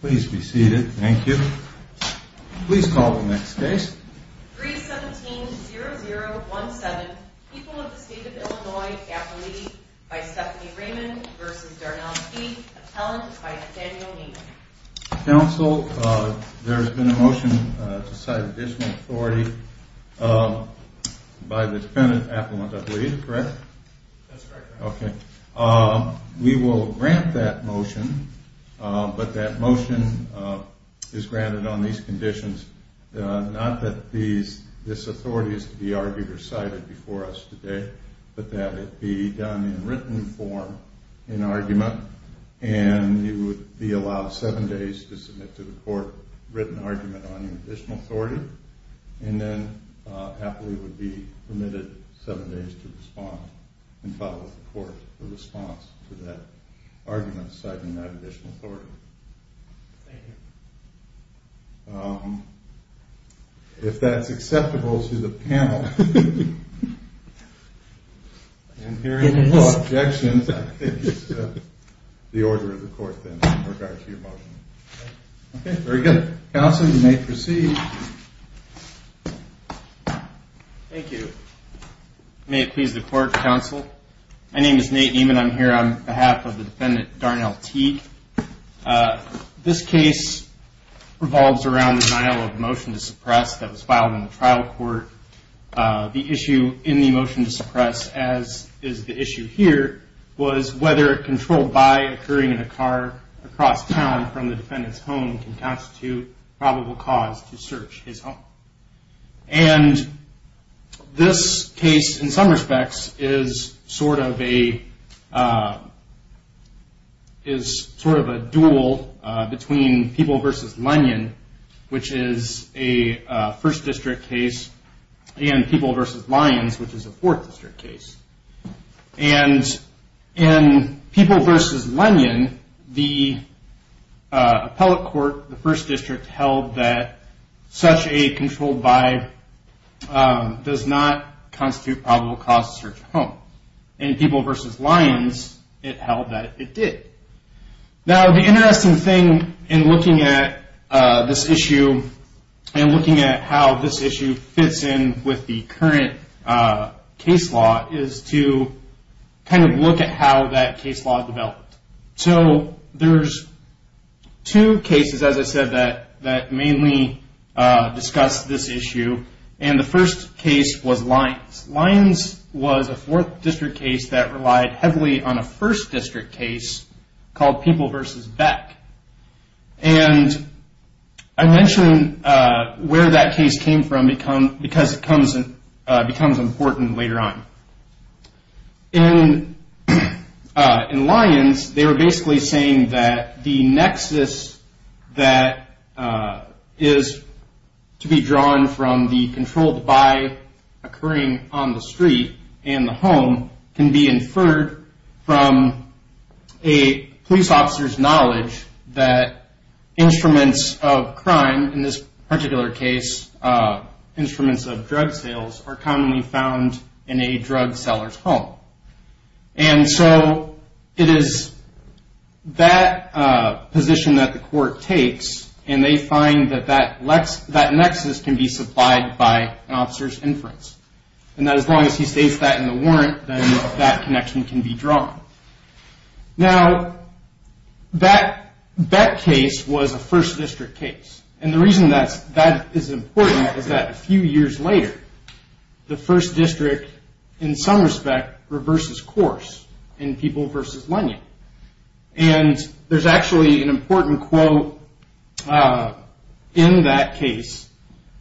Please be seated. Thank you. Please call the next case. 317-0017, People of the State of Illinois, Appellee by Stephanie Raymond v. Darnofsky, Appellant by Daniel Niemann. Counsel, there has been a motion to cite additional authority by the defendant appellant, I believe, correct? That's correct. Okay. We will grant that motion, but that motion is granted on these conditions. Not that this authority is to be argued or cited before us today, but that it be done in written form in argument, and you would be allowed seven days to submit to the court written argument on your additional authority, and then Appellee would be permitted seven days to respond and follow with the court in response to that argument citing that additional authority. Thank you. If that's acceptable to the panel, and hearing no objections, I think it's the order of the court then in regard to your motion. Okay. Very good. Counsel, you may proceed. Thank you. May it please the court, counsel? My name is Nate Niemann. I'm here on behalf of the defendant Darnofsky. This case revolves around the denial of motion to suppress that was filed in the trial court. The issue in the motion to suppress, as is the issue here, was whether controlled by occurring in a car across town from the defendant's home can constitute probable cause to search his home. And this case, in some respects, is sort of a duel between People v. Lanyon, which is a first district case, and People v. Lyons, which is a fourth district case. And in People v. Lanyon, the appellate court, the first district, held that such a controlled by does not constitute probable cause to search a home. In People v. Lyons, it held that it did. Now, the interesting thing in looking at this issue and looking at how this issue fits in with the current case law is to kind of look at how that case law developed. So there's two cases, as I said, that mainly discuss this issue. And the first case was Lyons. Lyons was a fourth district case that relied heavily on a first district case called People v. Beck. And I mention where that case came from because it becomes important later on. In Lyons, they were basically saying that the nexus that is to be drawn from the controlled by occurring on the street and the home can be inferred from a police officer's knowledge that instruments of crime, in this particular case, instruments of drug sales, are commonly found in a drug seller's home. And so it is that position that the court takes, and they find that that nexus can be supplied by an officer's inference. And as long as he states that in the warrant, then that connection can be drawn. Now, Beck case was a first district case. And the reason that that is important is that a few years later, the first district, in some respect, reverses course in People v. Lyons. And there's actually an important quote in that case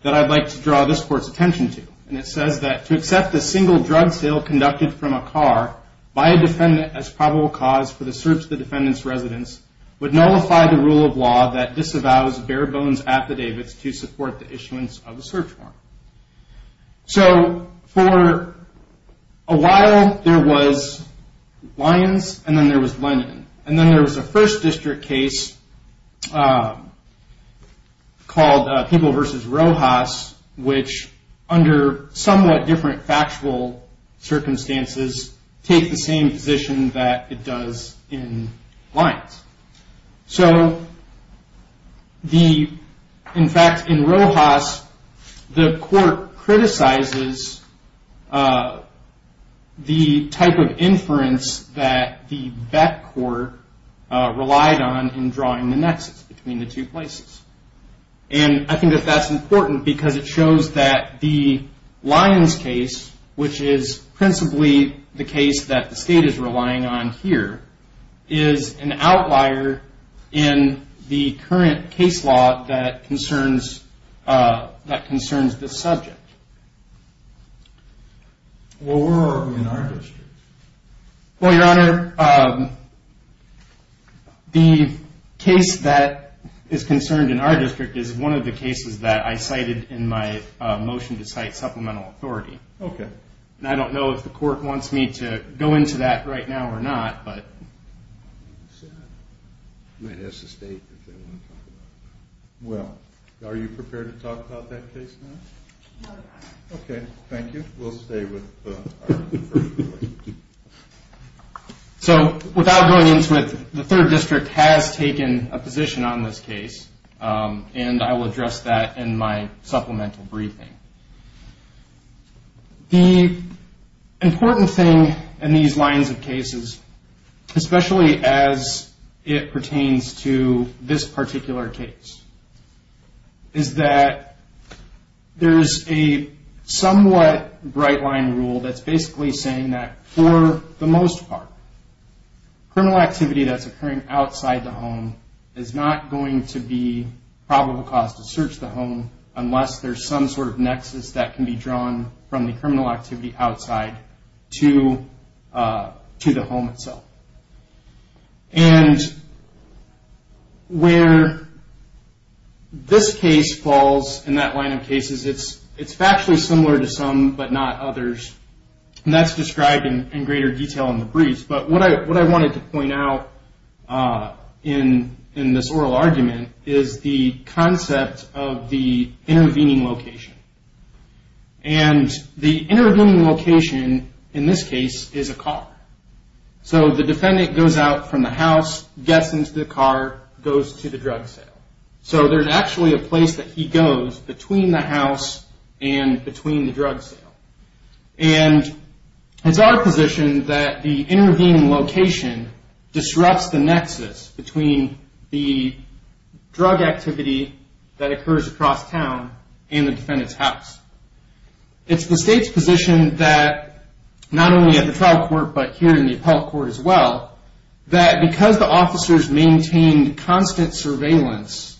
that I'd like to draw this court's attention to. And it says that, to accept a single drug sale conducted from a car by a defendant as probable cause for the search of the defendant's residence would nullify the rule of law that disavows bare bones affidavits to support the issuance of a search warrant. So for a while, there was Lyons, and then there was Lennon. And then there was a first district case called People v. Rojas, which, under somewhat different factual circumstances, takes the same position that it does in Lyons. So, in fact, in Rojas, the court criticizes the type of inference that the Beck court relied on in drawing the nexus between the two places. And I think that that's important because it shows that the Lyons case, which is principally the case that the state is relying on here, is an outlier in the current case law that concerns this subject. Well, where are we in our district? Well, Your Honor, the case that is concerned in our district is one of the cases that I cited in my motion to cite supplemental authority. Okay. And I don't know if the court wants me to go into that right now or not, but... Well, are you prepared to talk about that case now? No, Your Honor. Okay, thank you. We'll stay with the first case. So, without going into it, the third district has taken a position on this case, and I will address that in my supplemental briefing. The important thing in these Lyons cases, especially as it pertains to this particular case, is that there's a somewhat bright-line rule that's basically saying that, for the most part, criminal activity that's occurring outside the home is not going to be probable cause to search the home unless there's some sort of nexus that can be drawn from the criminal activity outside to the home itself. And where this case falls in that line of cases, it's factually similar to some but not others, and that's described in greater detail in the briefs. But what I wanted to point out in this oral argument is the concept of the intervening location. And the intervening location, in this case, is a car. So, the defendant goes out from the house, gets into the car, goes to the drug sale. So, there's actually a place that he goes between the house and between the drug sale. And it's our position that the intervening location disrupts the nexus between the drug activity that occurs across town and the defendant's house. It's the state's position that, not only at the trial court but here in the appellate court as well, that because the officers maintained constant surveillance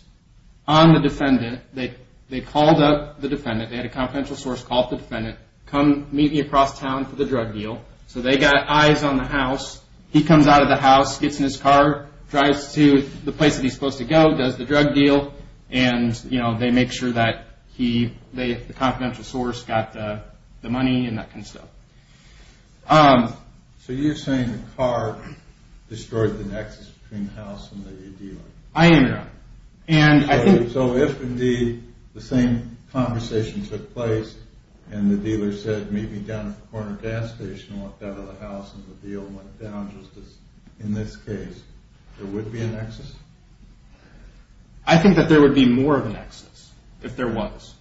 on the defendant, they called up the defendant. They had a confidential source call up the defendant, come meet me across town for the drug deal. So, they got eyes on the house. He comes out of the house, gets in his car, drives to the place that he's supposed to go, does the drug deal. And they make sure that the confidential source got the money and that kind of stuff. So, you're saying the car destroyed the nexus between the house and the dealer? I am, Your Honor. So, if indeed the same conversation took place and the dealer said, meet me down at the corner gas station, walked out of the house and the dealer went down, I think that there would be more of a nexus if there was.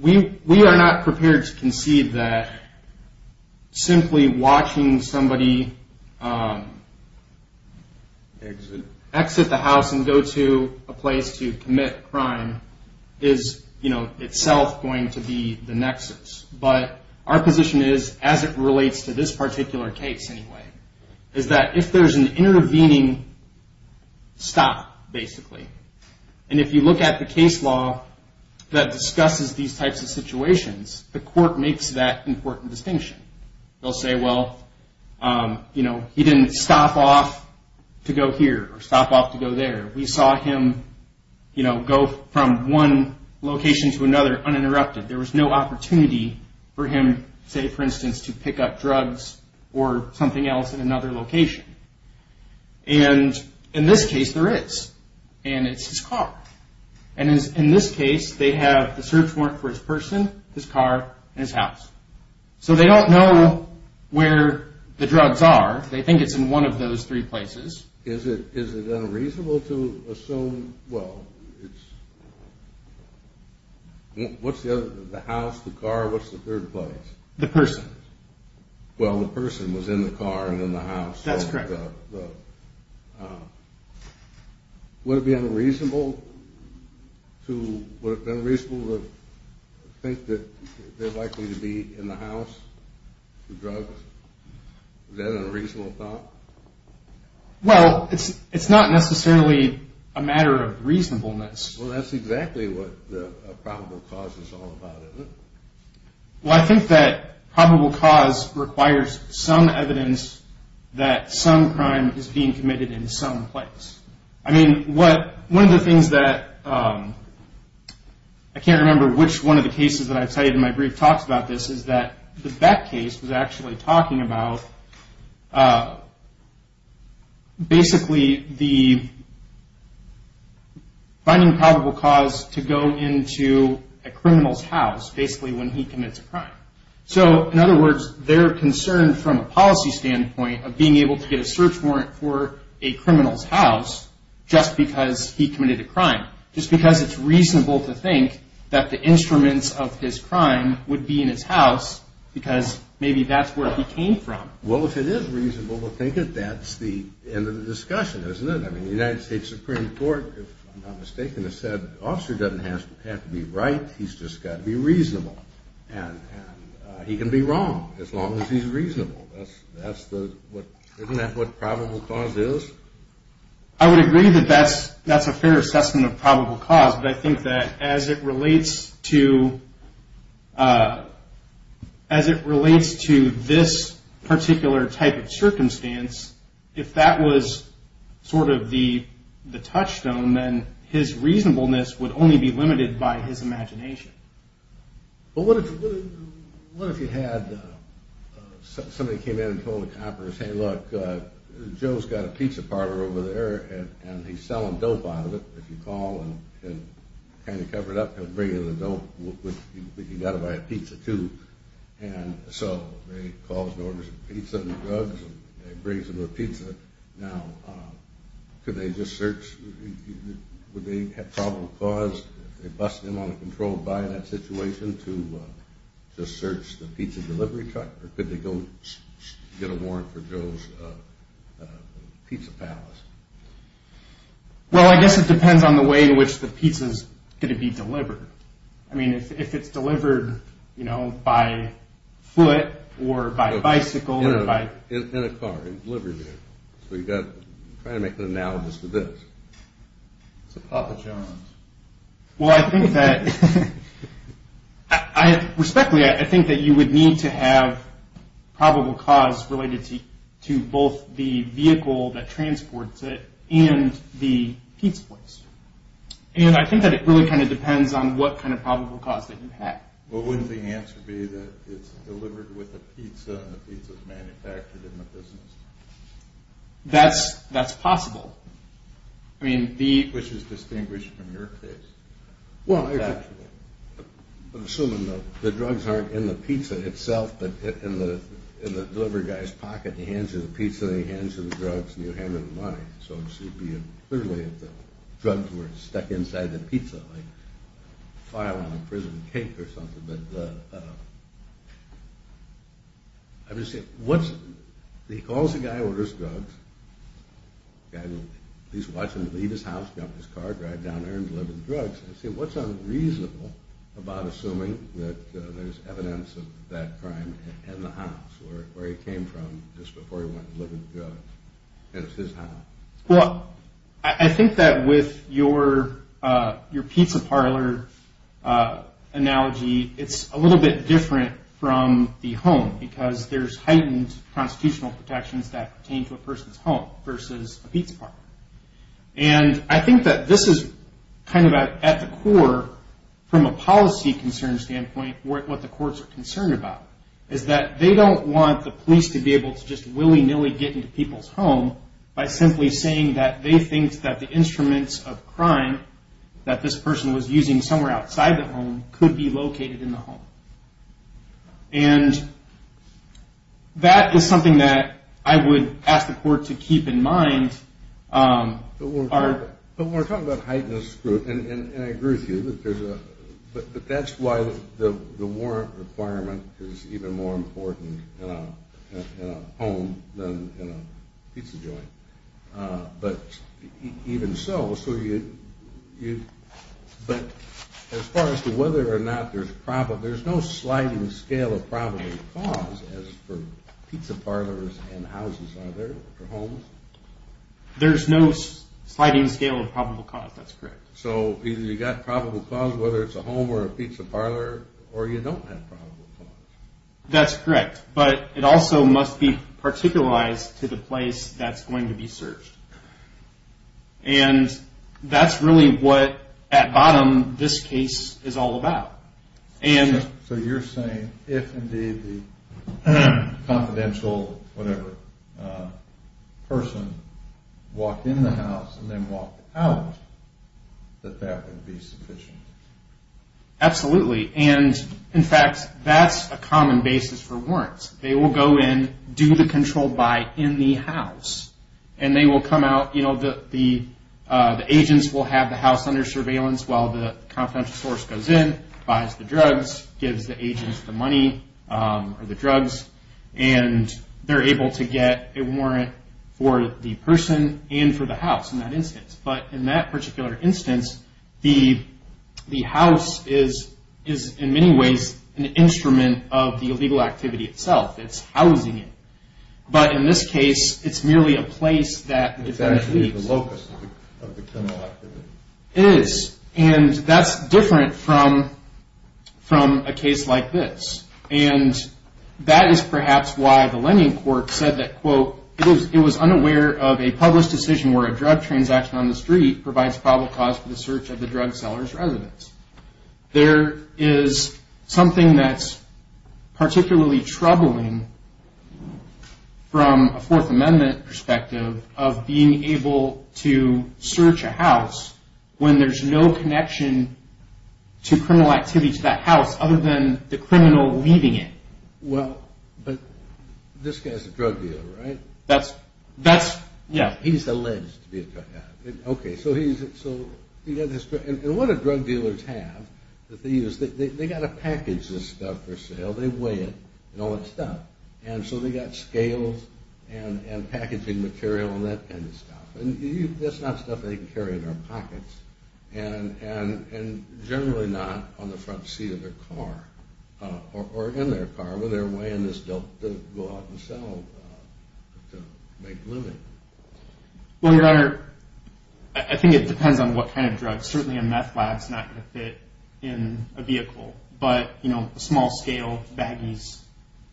We are not prepared to concede that simply watching somebody exit the house and go to a place to commit a crime is itself going to be the nexus. But our position is, as it relates to this particular case anyway, is that if there's an intervening stop, basically, and if you look at the case law that discusses these types of situations, the court makes that important distinction. They'll say, well, you know, he didn't stop off to go here or stop off to go there. We saw him, you know, go from one location to another uninterrupted. There was no opportunity for him, say, for instance, to pick up drugs or something else in another location. And in this case, there is, and it's his car. And in this case, they have the search warrant for his person, his car, and his house. So, they don't know where the drugs are. They think it's in one of those three places. Is it unreasonable to assume, well, it's the house, the car, what's the third place? The person. Well, the person was in the car and in the house. That's correct. Would it be unreasonable to think that they're likely to be in the house for drugs? Is that an unreasonable thought? Well, it's not necessarily a matter of reasonableness. Well, that's exactly what the probable cause is all about, isn't it? Well, I think that probable cause requires some evidence that some crime is being committed in some place. I mean, one of the things that I can't remember which one of the cases that I've cited in my brief talks about this is that the Beck case was actually talking about basically the finding probable cause to go into a criminal's house, basically when he commits a crime. So, in other words, they're concerned from a policy standpoint of being able to get a search warrant for a criminal's house just because he committed a crime, just because it's reasonable to think that the instruments of his crime would be in his house because maybe that's where he came from. Well, if it is reasonable to think that, that's the end of the discussion, isn't it? I mean, the United States Supreme Court, if I'm not mistaken, has said, the officer doesn't have to be right, he's just got to be reasonable. And he can be wrong as long as he's reasonable. Isn't that what probable cause is? I would agree that that's a fair assessment of probable cause, but I think that as it relates to this particular type of circumstance, if that was sort of the touchstone, then his reasonableness would only be limited by his imagination. Well, what if you had somebody came in and told the coppers, hey, look, Joe's got a pizza parlor over there, and he's selling dope out of it. If you call and kind of cover it up, he'll bring you the dope, but you've got to buy a pizza, too. And so they call and order some pizza and drugs, and he brings them the pizza. Now, could they just search? Would they have probable cause if they busted him on a controlled buy in that situation to just search the pizza delivery truck? Or could they go get a warrant for Joe's Pizza Palace? Well, I guess it depends on the way in which the pizza's going to be delivered. I mean, if it's delivered, you know, by foot or by bicycle or by— It's a Papa John's. Well, I think that—respectfully, I think that you would need to have probable cause related to both the vehicle that transports it and the pizza place. And I think that it really kind of depends on what kind of probable cause that you have. Well, wouldn't the answer be that it's delivered with a pizza and the pizza's manufactured in the business? That's possible. I mean, which is distinguished from your case. Well, I'm assuming that the drugs aren't in the pizza itself, but in the delivery guy's pocket. He hands you the pizza, and he hands you the drugs, and you hand him the money. So it should be clearly that the drugs were stuck inside the pizza, like a file on a prison cake or something. But I'm just saying, what's—he calls the guy who orders drugs. The guy will at least watch him leave his house, jump in his car, drive down there and deliver the drugs. I say, what's unreasonable about assuming that there's evidence of that crime in the house, where he came from just before he went to deliver the drugs, and it's his house? Well, I think that with your pizza parlor analogy, it's a little bit different from the home, because there's heightened constitutional protections that pertain to a person's home versus a pizza parlor. And I think that this is kind of at the core, from a policy concern standpoint, what the courts are concerned about, is that they don't want the police to be able to just willy-nilly get into people's home by simply saying that they think that the instruments of crime that this person was using somewhere outside the home could be located in the home. And that is something that I would ask the court to keep in mind. But we're talking about heightened scrutiny, and I agree with you, but that's why the warrant requirement is even more important in a home than in a pizza joint. But even so, as far as to whether or not there's no sliding scale of probable cause as for pizza parlors and houses, are there for homes? There's no sliding scale of probable cause, that's correct. So either you've got probable cause, whether it's a home or a pizza parlor, or you don't have probable cause. That's correct. But it also must be particularized to the place that's going to be searched. And that's really what, at bottom, this case is all about. So you're saying, if indeed the confidential, whatever, person walked in the house and then walked out, that that would be sufficient? Absolutely. And, in fact, that's a common basis for warrants. They will go in, do the controlled by in the house, and they will come out. The agents will have the house under surveillance while the confidential source goes in, buys the drugs, gives the agents the money or the drugs, and they're able to get a warrant for the person and for the house. But in that particular instance, the house is, in many ways, an instrument of the illegal activity itself. It's housing it. But in this case, it's merely a place that it actually is. It's actually the locus of the criminal activity. It is. And that's different from a case like this. And that is perhaps why the Lenin Court said that, quote, it was unaware of a published decision where a drug transaction on the street provides probable cause for the search of the drug seller's residence. There is something that's particularly troubling from a Fourth Amendment perspective of being able to search a house when there's no connection to criminal activity to that house other than the criminal leaving it. Well, but this guy's a drug dealer, right? That's, yeah. He's alleged to be a drug dealer. Okay, so he's, so he got this drug. And what the drug dealers have that they use, they got to package this stuff for sale. They weigh it and all that stuff. And so they got scales and packaging material and that kind of stuff. And that's not stuff they can carry in their pockets and generally not on the front seat of their car or in their car, or their way in this dump to go out and sell to make a living. Well, Your Honor, I think it depends on what kind of drug. Certainly a meth lab is not going to fit in a vehicle. But, you know, small-scale baggies,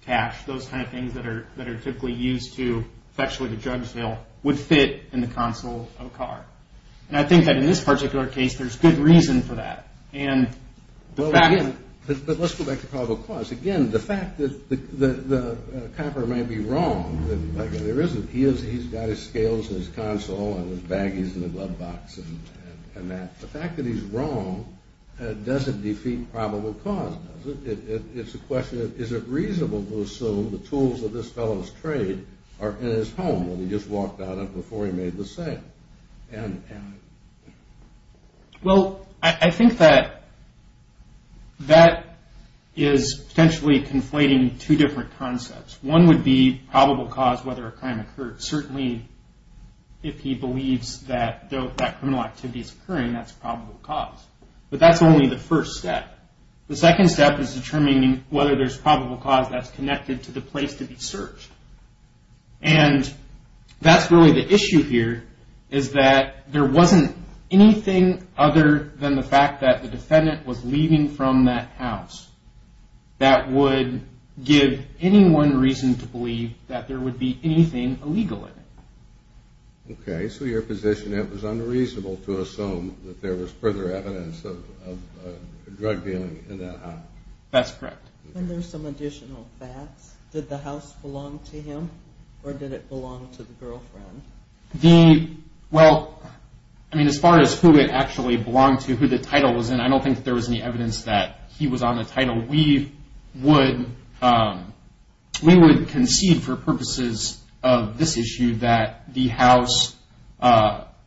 cash, those kind of things that are typically used to fetch with a drug sale would fit in the console of a car. And I think that in this particular case, there's good reason for that. And the fact that... Well, again, but let's go back to probable cause. Again, the fact that the copper may be wrong. There isn't. He's got his scales in his console and his baggies in the glove box and that. The fact that he's wrong doesn't defeat probable cause, does it? It's a question of is it reasonable to assume the tools of this fellow's trade are in his home when he just walked out of it before he made the sale? And... Well, I think that that is potentially conflating two different concepts. One would be probable cause, whether a crime occurred. Certainly if he believes that criminal activity is occurring, that's probable cause. But that's only the first step. The second step is determining whether there's probable cause that's connected to the place to be searched. And that's really the issue here, is that there wasn't anything other than the fact that the defendant was leaving from that house that would give anyone reason to believe that there would be anything illegal in it. Okay. So your position, it was unreasonable to assume that there was further evidence of drug dealing in that house. That's correct. And there's some additional facts. Did the house belong to him, or did it belong to the girlfriend? The... Well, I mean, as far as who it actually belonged to, who the title was in, I don't think that there was any evidence that he was on the title. We would concede for purposes of this issue that the house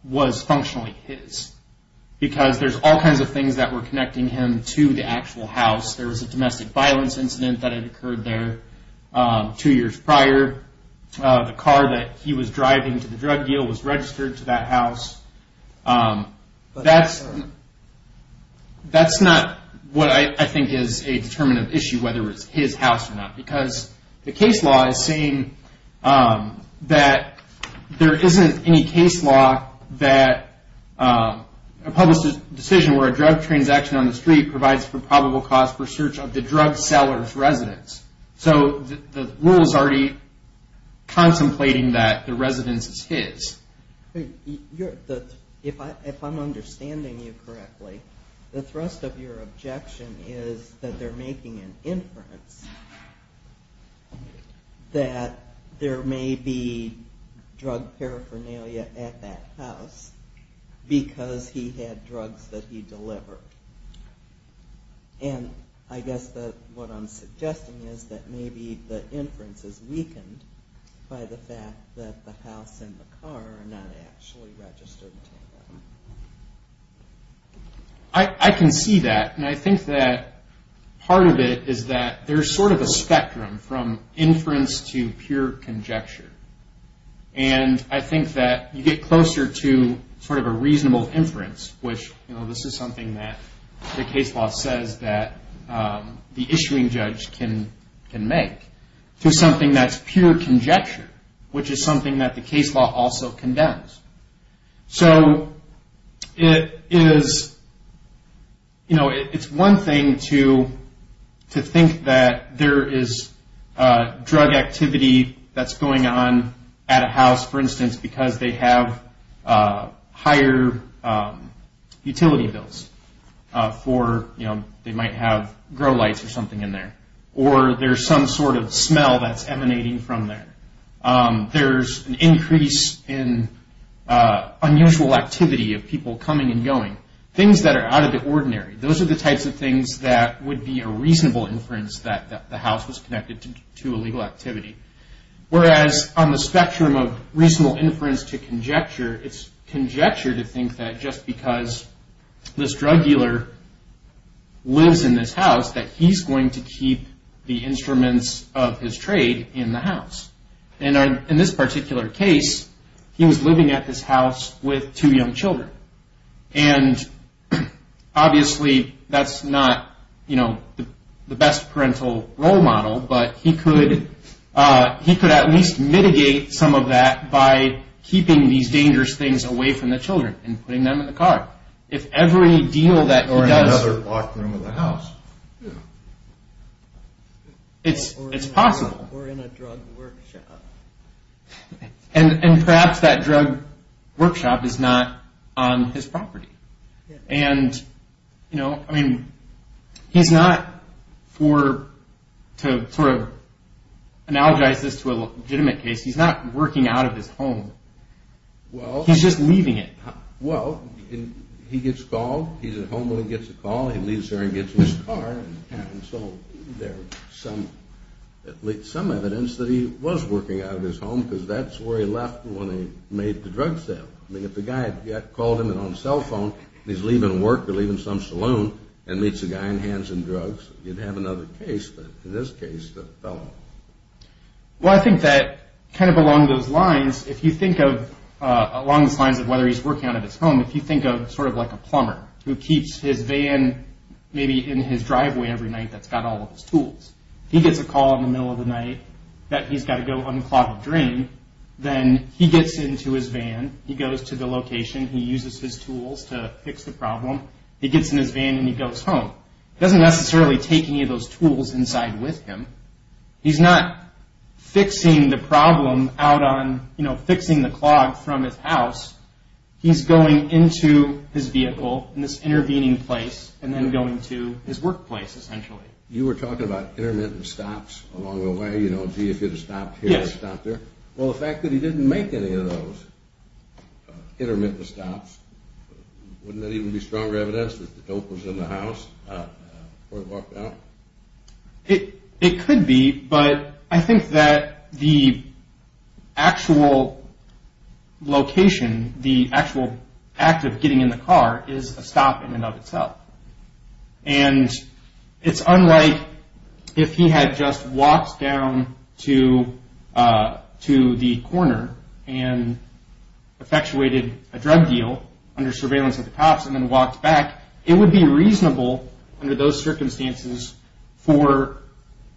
was functionally his, because there's all kinds of things that were connecting him to the actual house. There was a domestic violence incident that had occurred there two years prior. The car that he was driving to the drug deal was registered to that house. That's not what I think is a determinative issue, whether it's his house or not, because the case law is saying that there isn't any case law that a publicist's decision where a drug transaction on the street provides for probable cause for search of the drug seller's residence. So the rule is already contemplating that the residence is his. If I'm understanding you correctly, the thrust of your objection is that they're making an inference that there may be drug paraphernalia at that house because he had drugs that he delivered. And I guess that what I'm suggesting is that maybe the inference is weakened by the fact that the house and the car are not actually registered to him. I can see that, and I think that part of it is that there's sort of a spectrum from inference to pure conjecture. And I think that you get closer to sort of a reasonable inference, which this is something that the case law says that the issuing judge can make, to something that's pure conjecture, which is something that the case law also condemns. So it is, you know, it's one thing to think that there is drug activity that's going on at a house, for instance, because they have higher utility bills for, you know, they might have grow lights or something in there, or there's some sort of smell that's emanating from there. There's an increase in unusual activity of people coming and going, things that are out of the ordinary. Those are the types of things that would be a reasonable inference that the house was connected to illegal activity. Whereas on the spectrum of reasonable inference to conjecture, it's conjecture to think that just because this drug dealer lives in this house that he's going to keep the instruments of his trade in the house. And in this particular case, he was living at this house with two young children. And obviously that's not, you know, the best parental role model, but he could at least mitigate some of that by keeping these dangerous things away from the children and putting them in the car. If every deal that he does... Or in another locked room of the house. It's possible. Or in a drug workshop. And perhaps that drug workshop is not on his property. And, you know, I mean, he's not for, to sort of analogize this to a legitimate case, he's not working out of his home. He's just leaving it. Well, he gets called. He's at home when he gets a call. He leaves there and gets in his car. And so there's some evidence that he was working out of his home because that's where he left when he made the drug sale. I mean, if the guy had called him on his cell phone and he's leaving work or leaving some saloon and meets a guy in hands and drugs, you'd have another case. But in this case, it fell off. Well, I think that kind of along those lines, if you think of along those lines of whether he's working out of his home, if you think of sort of like a plumber who keeps his van maybe in his driveway every night that's got all of his tools. He gets a call in the middle of the night that he's got to go unclog a drain. Then he gets into his van. He goes to the location. He uses his tools to fix the problem. He gets in his van and he goes home. He doesn't necessarily take any of those tools inside with him. He's not fixing the problem out on, you know, fixing the clog from his house. He's going into his vehicle in this intervening place and then going to his workplace essentially. You were talking about intermittent stops along the way. You know, gee, if it had stopped here, it would have stopped there. Well, the fact that he didn't make any of those intermittent stops, wouldn't that even be stronger evidence that the dope was in the house before it walked out? It could be, but I think that the actual location, the actual act of getting in the car is a stop in and of itself. And it's unlike if he had just walked down to the corner and effectuated a drug deal under surveillance at the cops and then walked back. It would be reasonable under those circumstances for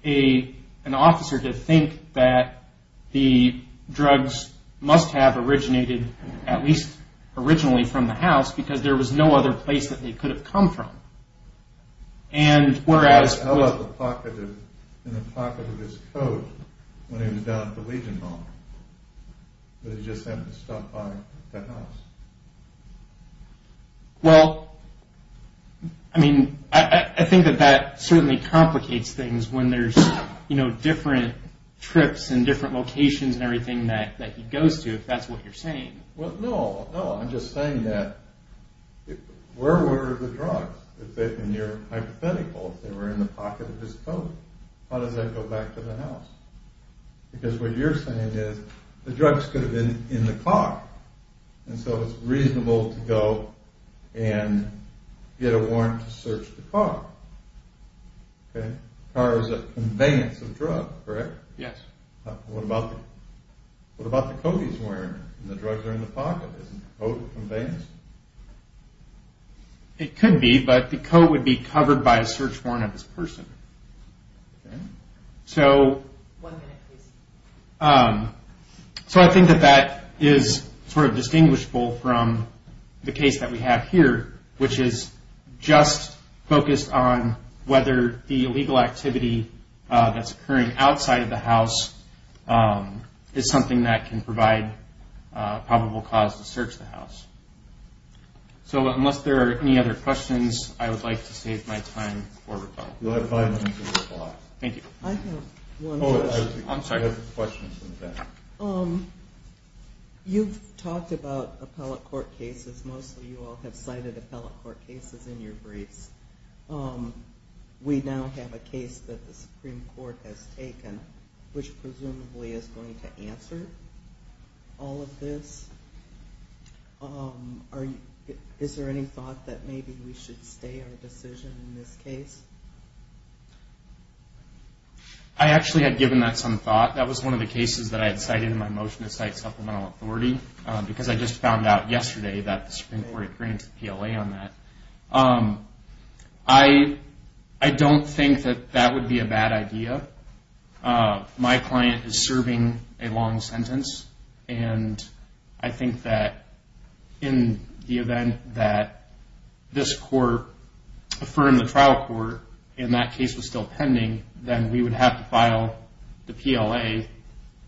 an officer to think that the drugs must have originated at least originally from the house because there was no other place that they could have come from. And whereas... How about the pocket of his coat when he was down at the Legion Mall? Did he just happen to stop by the house? Well, I mean, I think that that certainly complicates things when there's, you know, different trips and different locations and everything that he goes to, if that's what you're saying. Well, no, no, I'm just saying that where were the drugs? In your hypothetical, if they were in the pocket of his coat, how does that go back to the house? Because what you're saying is the drugs could have been in the car. And so it's reasonable to go and get a warrant to search the car. Okay? The car is a conveyance of drugs, correct? Yes. What about the coat he's wearing? The drugs are in the pocket. Isn't the coat a conveyance? It could be, but the coat would be covered by a search warrant of his person. Okay. So... One minute, please. So I think that that is sort of distinguishable from the case that we have here, which is just focused on whether the illegal activity that's occurring outside of the house is something that can provide a probable cause to search the house. So unless there are any other questions, I would like to save my time for rebuttal. You'll have five minutes for rebuttal. Thank you. I have one question. Oh, I'm sorry. I have a question. You've talked about appellate court cases. Most of you all have cited appellate court cases in your briefs. We now have a case that the Supreme Court has taken, which presumably is going to answer all of this. Is there any thought that maybe we should stay our decision in this case? I actually had given that some thought. That was one of the cases that I had cited in my motion to cite supplemental authority because I just found out yesterday that the Supreme Court had granted PLA on that. I don't think that that would be a bad idea. My client is serving a long sentence, and I think that in the event that this court affirmed the trial court and that case was still pending, then we would have to file the PLA,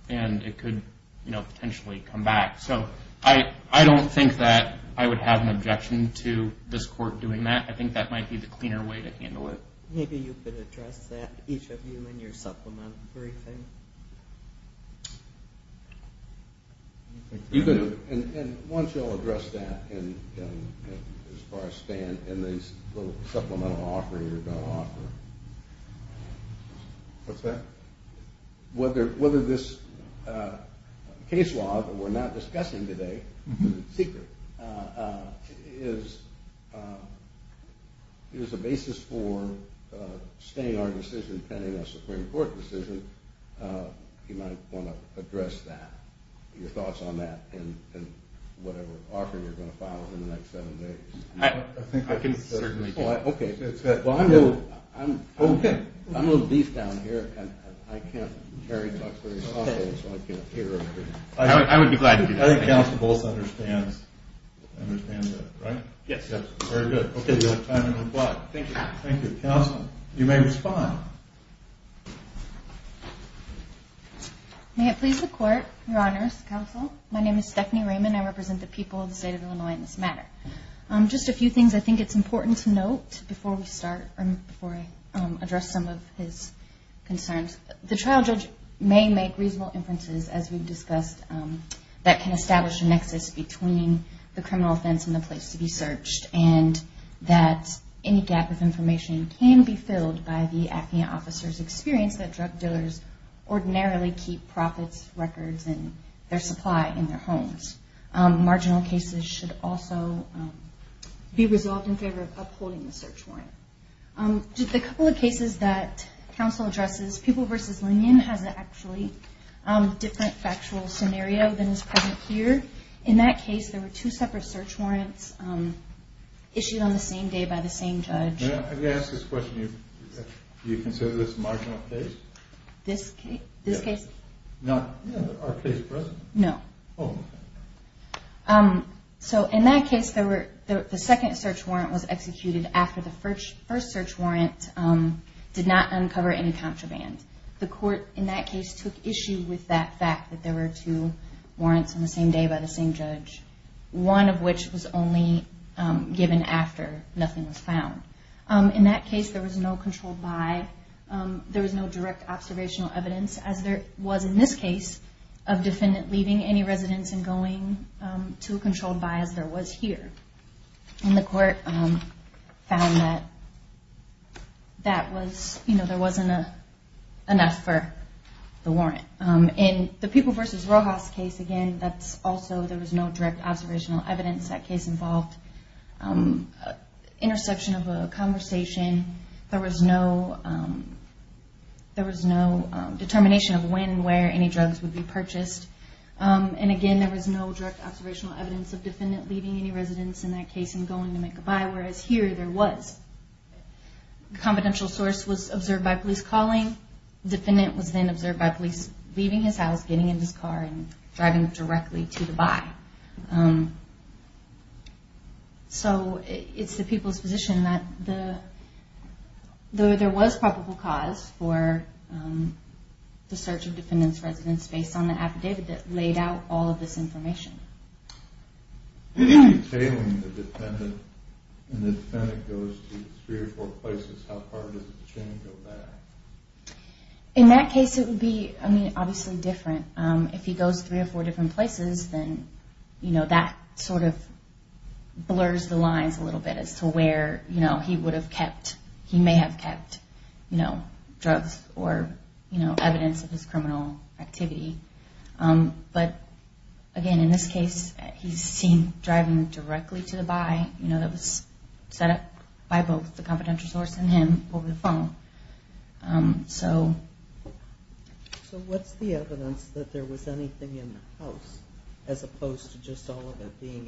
and it could potentially come back. So I don't think that I would have an objection to this court doing that. I think that might be the cleaner way to handle it. Maybe you could address that, each of you, in your supplemental briefing. And once you all address that as far as staying in this little supplemental offer you're going to offer. What's that? Whether this case law that we're not discussing today is secret is a basis for staying our decision pending a Supreme Court decision, you might want to address that, your thoughts on that, and whatever offer you're going to file in the next seven days. I can certainly do that. Okay. Well, I'm a little beefed down here. I can't carry the box very softly, so I can't hear everything. I would be glad to do that. I think counsel both understands that, right? Yes. Very good. Okay, you have time to reply. Thank you. Thank you. Counsel, you may respond. May it please the Court, Your Honors, Counsel, my name is Stephanie Raymond. I represent the people of the state of Illinois in this matter. Just a few things I think it's important to note before we start or before I address some of his concerns. The trial judge may make reasonable inferences, as we've discussed, that can establish a nexus between the criminal offense and the place to be searched and that any gap of information can be filled by the acne officer's experience that drug dealers ordinarily keep profits, records, and their supply in their homes. Marginal cases should also be resolved in favor of upholding the search warrant. The couple of cases that counsel addresses, Pupil v. Linnion has an actually different factual scenario than is present here. In that case, there were two separate search warrants issued on the same day by the same judge. May I ask this question? Do you consider this a marginal case? This case? Not our case present? No. Oh. So in that case, the second search warrant was executed after the first search warrant did not uncover any contraband. The court in that case took issue with that fact, that there were two warrants on the same day by the same judge, one of which was only given after nothing was found. In that case, there was no controlled by, there was no direct observational evidence, as there was in this case of defendant leaving any residence and going to a controlled by as there was here. And the court found that that was, you know, there wasn't enough for the warrant. In the Pupil v. Rojas case, again, that's also, there was no direct observational evidence that case involved interception of a conversation. There was no determination of when and where any drugs would be purchased. And, again, there was no direct observational evidence of defendant leaving any residence in that case and going to make a buy, whereas here there was. The confidential source was observed by police calling. The defendant was then observed by police leaving his house, getting in his car, and driving directly to the buy. So it's the people's position that there was probable cause for the search of defendant's residence based on the affidavit that laid out all of this information. If you're tailing the defendant and the defendant goes to three or four places, how far does the chain go back? In that case, it would be, I mean, obviously different. If he goes three or four different places, then, you know, that sort of blurs the lines a little bit as to where, you know, he would have kept, he may have kept, you know, drugs or, you know, evidence of his criminal activity. But, again, in this case, he's seen driving directly to the buy, you know, that was set up by both the confidential source and him over the phone. So... So what's the evidence that there was anything in the house as opposed to just all of it being in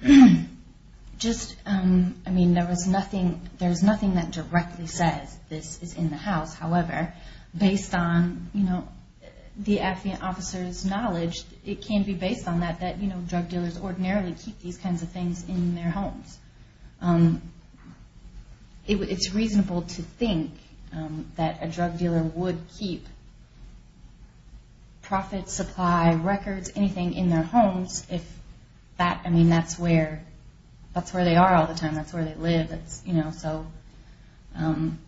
the car? Just, I mean, there was nothing that directly says this is in the house. However, based on, you know, the affiant officer's knowledge, it can be based on that, that, you know, drug dealers ordinarily keep these kinds of things in their homes. It's reasonable to think that a drug dealer would keep profits, supply, records, anything in their homes if that, I mean, that's where they are all the time, that's where they live, you know, so...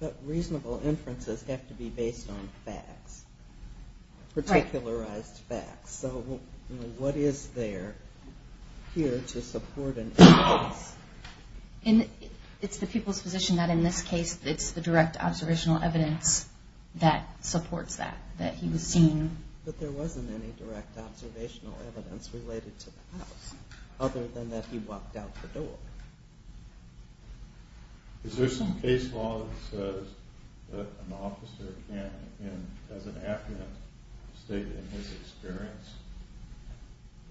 But reasonable inferences have to be based on facts, particularized facts. So, you know, what is there here to support an inference? It's the people's position that in this case, it's the direct observational evidence that supports that, that he was seen. But there wasn't any direct observational evidence related to the house, other than that he walked out the door. Is there some case law that says that an officer can, as an affiant, state it in his experience,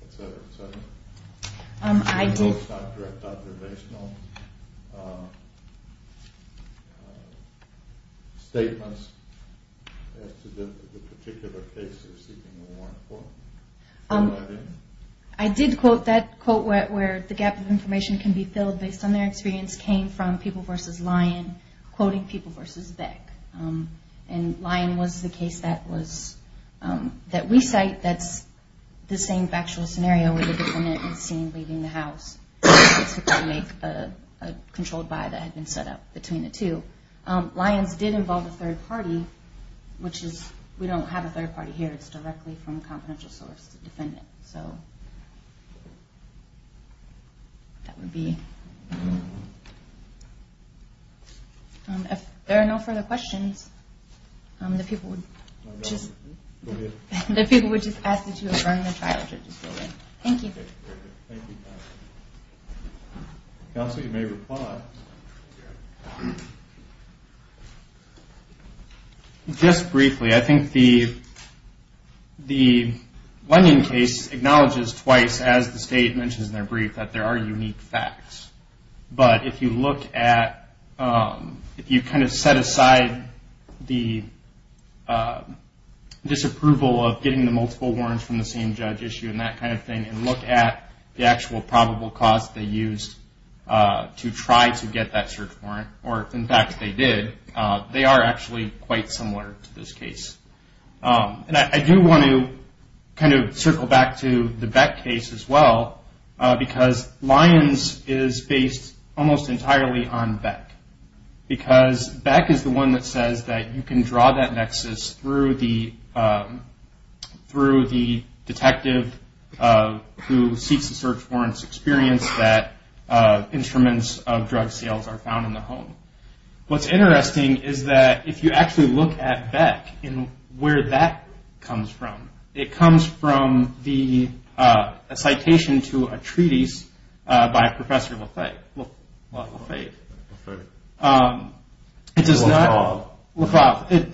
et cetera, et cetera? I did... So it's not direct observational statements as to the particular case they're seeking a warrant for? I did quote that quote where the gap of information can be filled based on their experience came from People v. Lyon quoting People v. Beck. And Lyon was the case that we cite that's the same factual scenario where the defendant is seen leaving the house. It's to make a controlled buy that had been set up between the two. Lyon's did involve a third party, which is... We don't have a third party here. It's directly from a confidential source, the defendant, so... That would be... If there are no further questions, the people would just... Go ahead. The people would just ask that you adjourn the trial. Thank you. Thank you. Counsel, you may reply. Just briefly, I think the lending case acknowledges twice, as the state mentions in their brief, that there are unique facts. But if you look at... If you kind of set aside the disapproval of getting the multiple warrants from the same judge issue and that kind of thing and look at the actual probable cause they used to try to get that search warrant, or, in fact, they did, they are actually quite similar to this case. And I do want to kind of circle back to the Beck case as well, because Lyon's is based almost entirely on Beck. Because Beck is the one that says that you can draw that nexus through the detective who seeks the search warrants experience that instruments of drug sales are found in the home. What's interesting is that if you actually look at Beck and where that comes from, it comes from the citation to a treatise by Professor Lefebvre. Lefebvre. Lefebvre.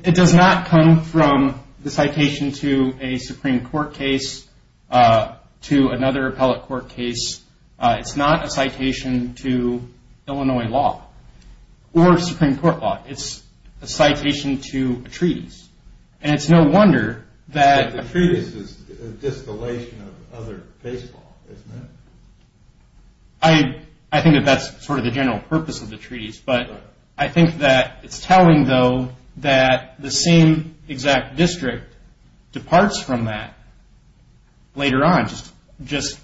It does not come from the citation to a Supreme Court case, to another appellate court case. It's not a citation to Illinois law or Supreme Court law. It's a citation to a treatise. And it's no wonder that... The treatise is a distillation of other baseball, isn't it? I think that that's sort of the general purpose of the treatise, but I think that it's telling, though, that the same exact district departs from that later on. Just,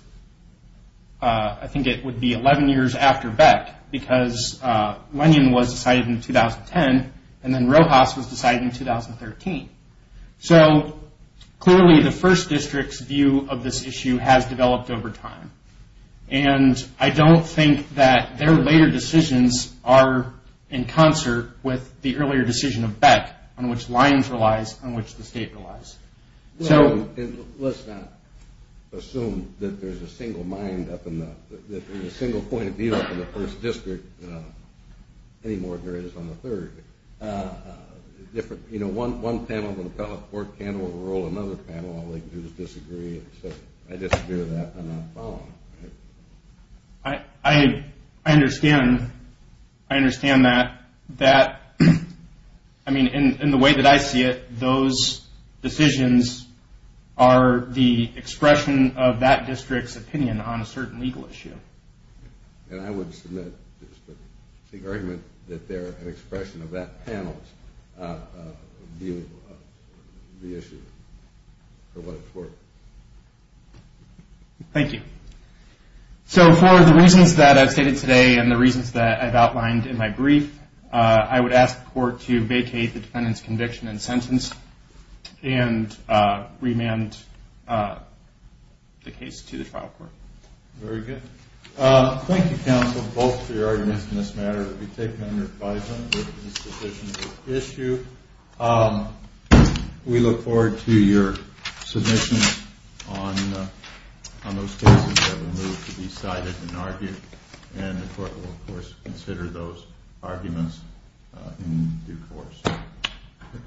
I think it would be 11 years after Beck, because Lennon was decided in 2010, and then Rojas was decided in 2013. So clearly the first district's view of this issue has developed over time. And I don't think that their later decisions are in concert with the earlier decision of Beck, on which lines relies, on which the state relies. Let's not assume that there's a single point of view up in the first district, any more than there is on the third. One panel of an appellate court can't overrule another panel. All they can do is disagree. I disagree with that, I'm not following. I understand. I understand that. I mean, in the way that I see it, those decisions are the expression of that district's opinion on a certain legal issue. And I would submit the argument that they're an expression of that panel's view of the issue, or what it's worth. Thank you. So for the reasons that I've stated today and the reasons that I've outlined in my brief, I would ask the court to vacate the defendant's conviction and sentence and remand the case to the trial court. Very good. Thank you, counsel, both for your arguments in this matter. We take them under advisement. This is a sufficient issue. We look forward to your submissions on those cases that were moved to be cited and argued, and the court will, of course, consider those arguments in due course.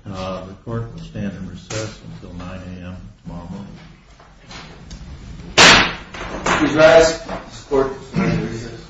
The court will stand in recess until 9 a.m. tomorrow morning. Please rise. This court is in recess.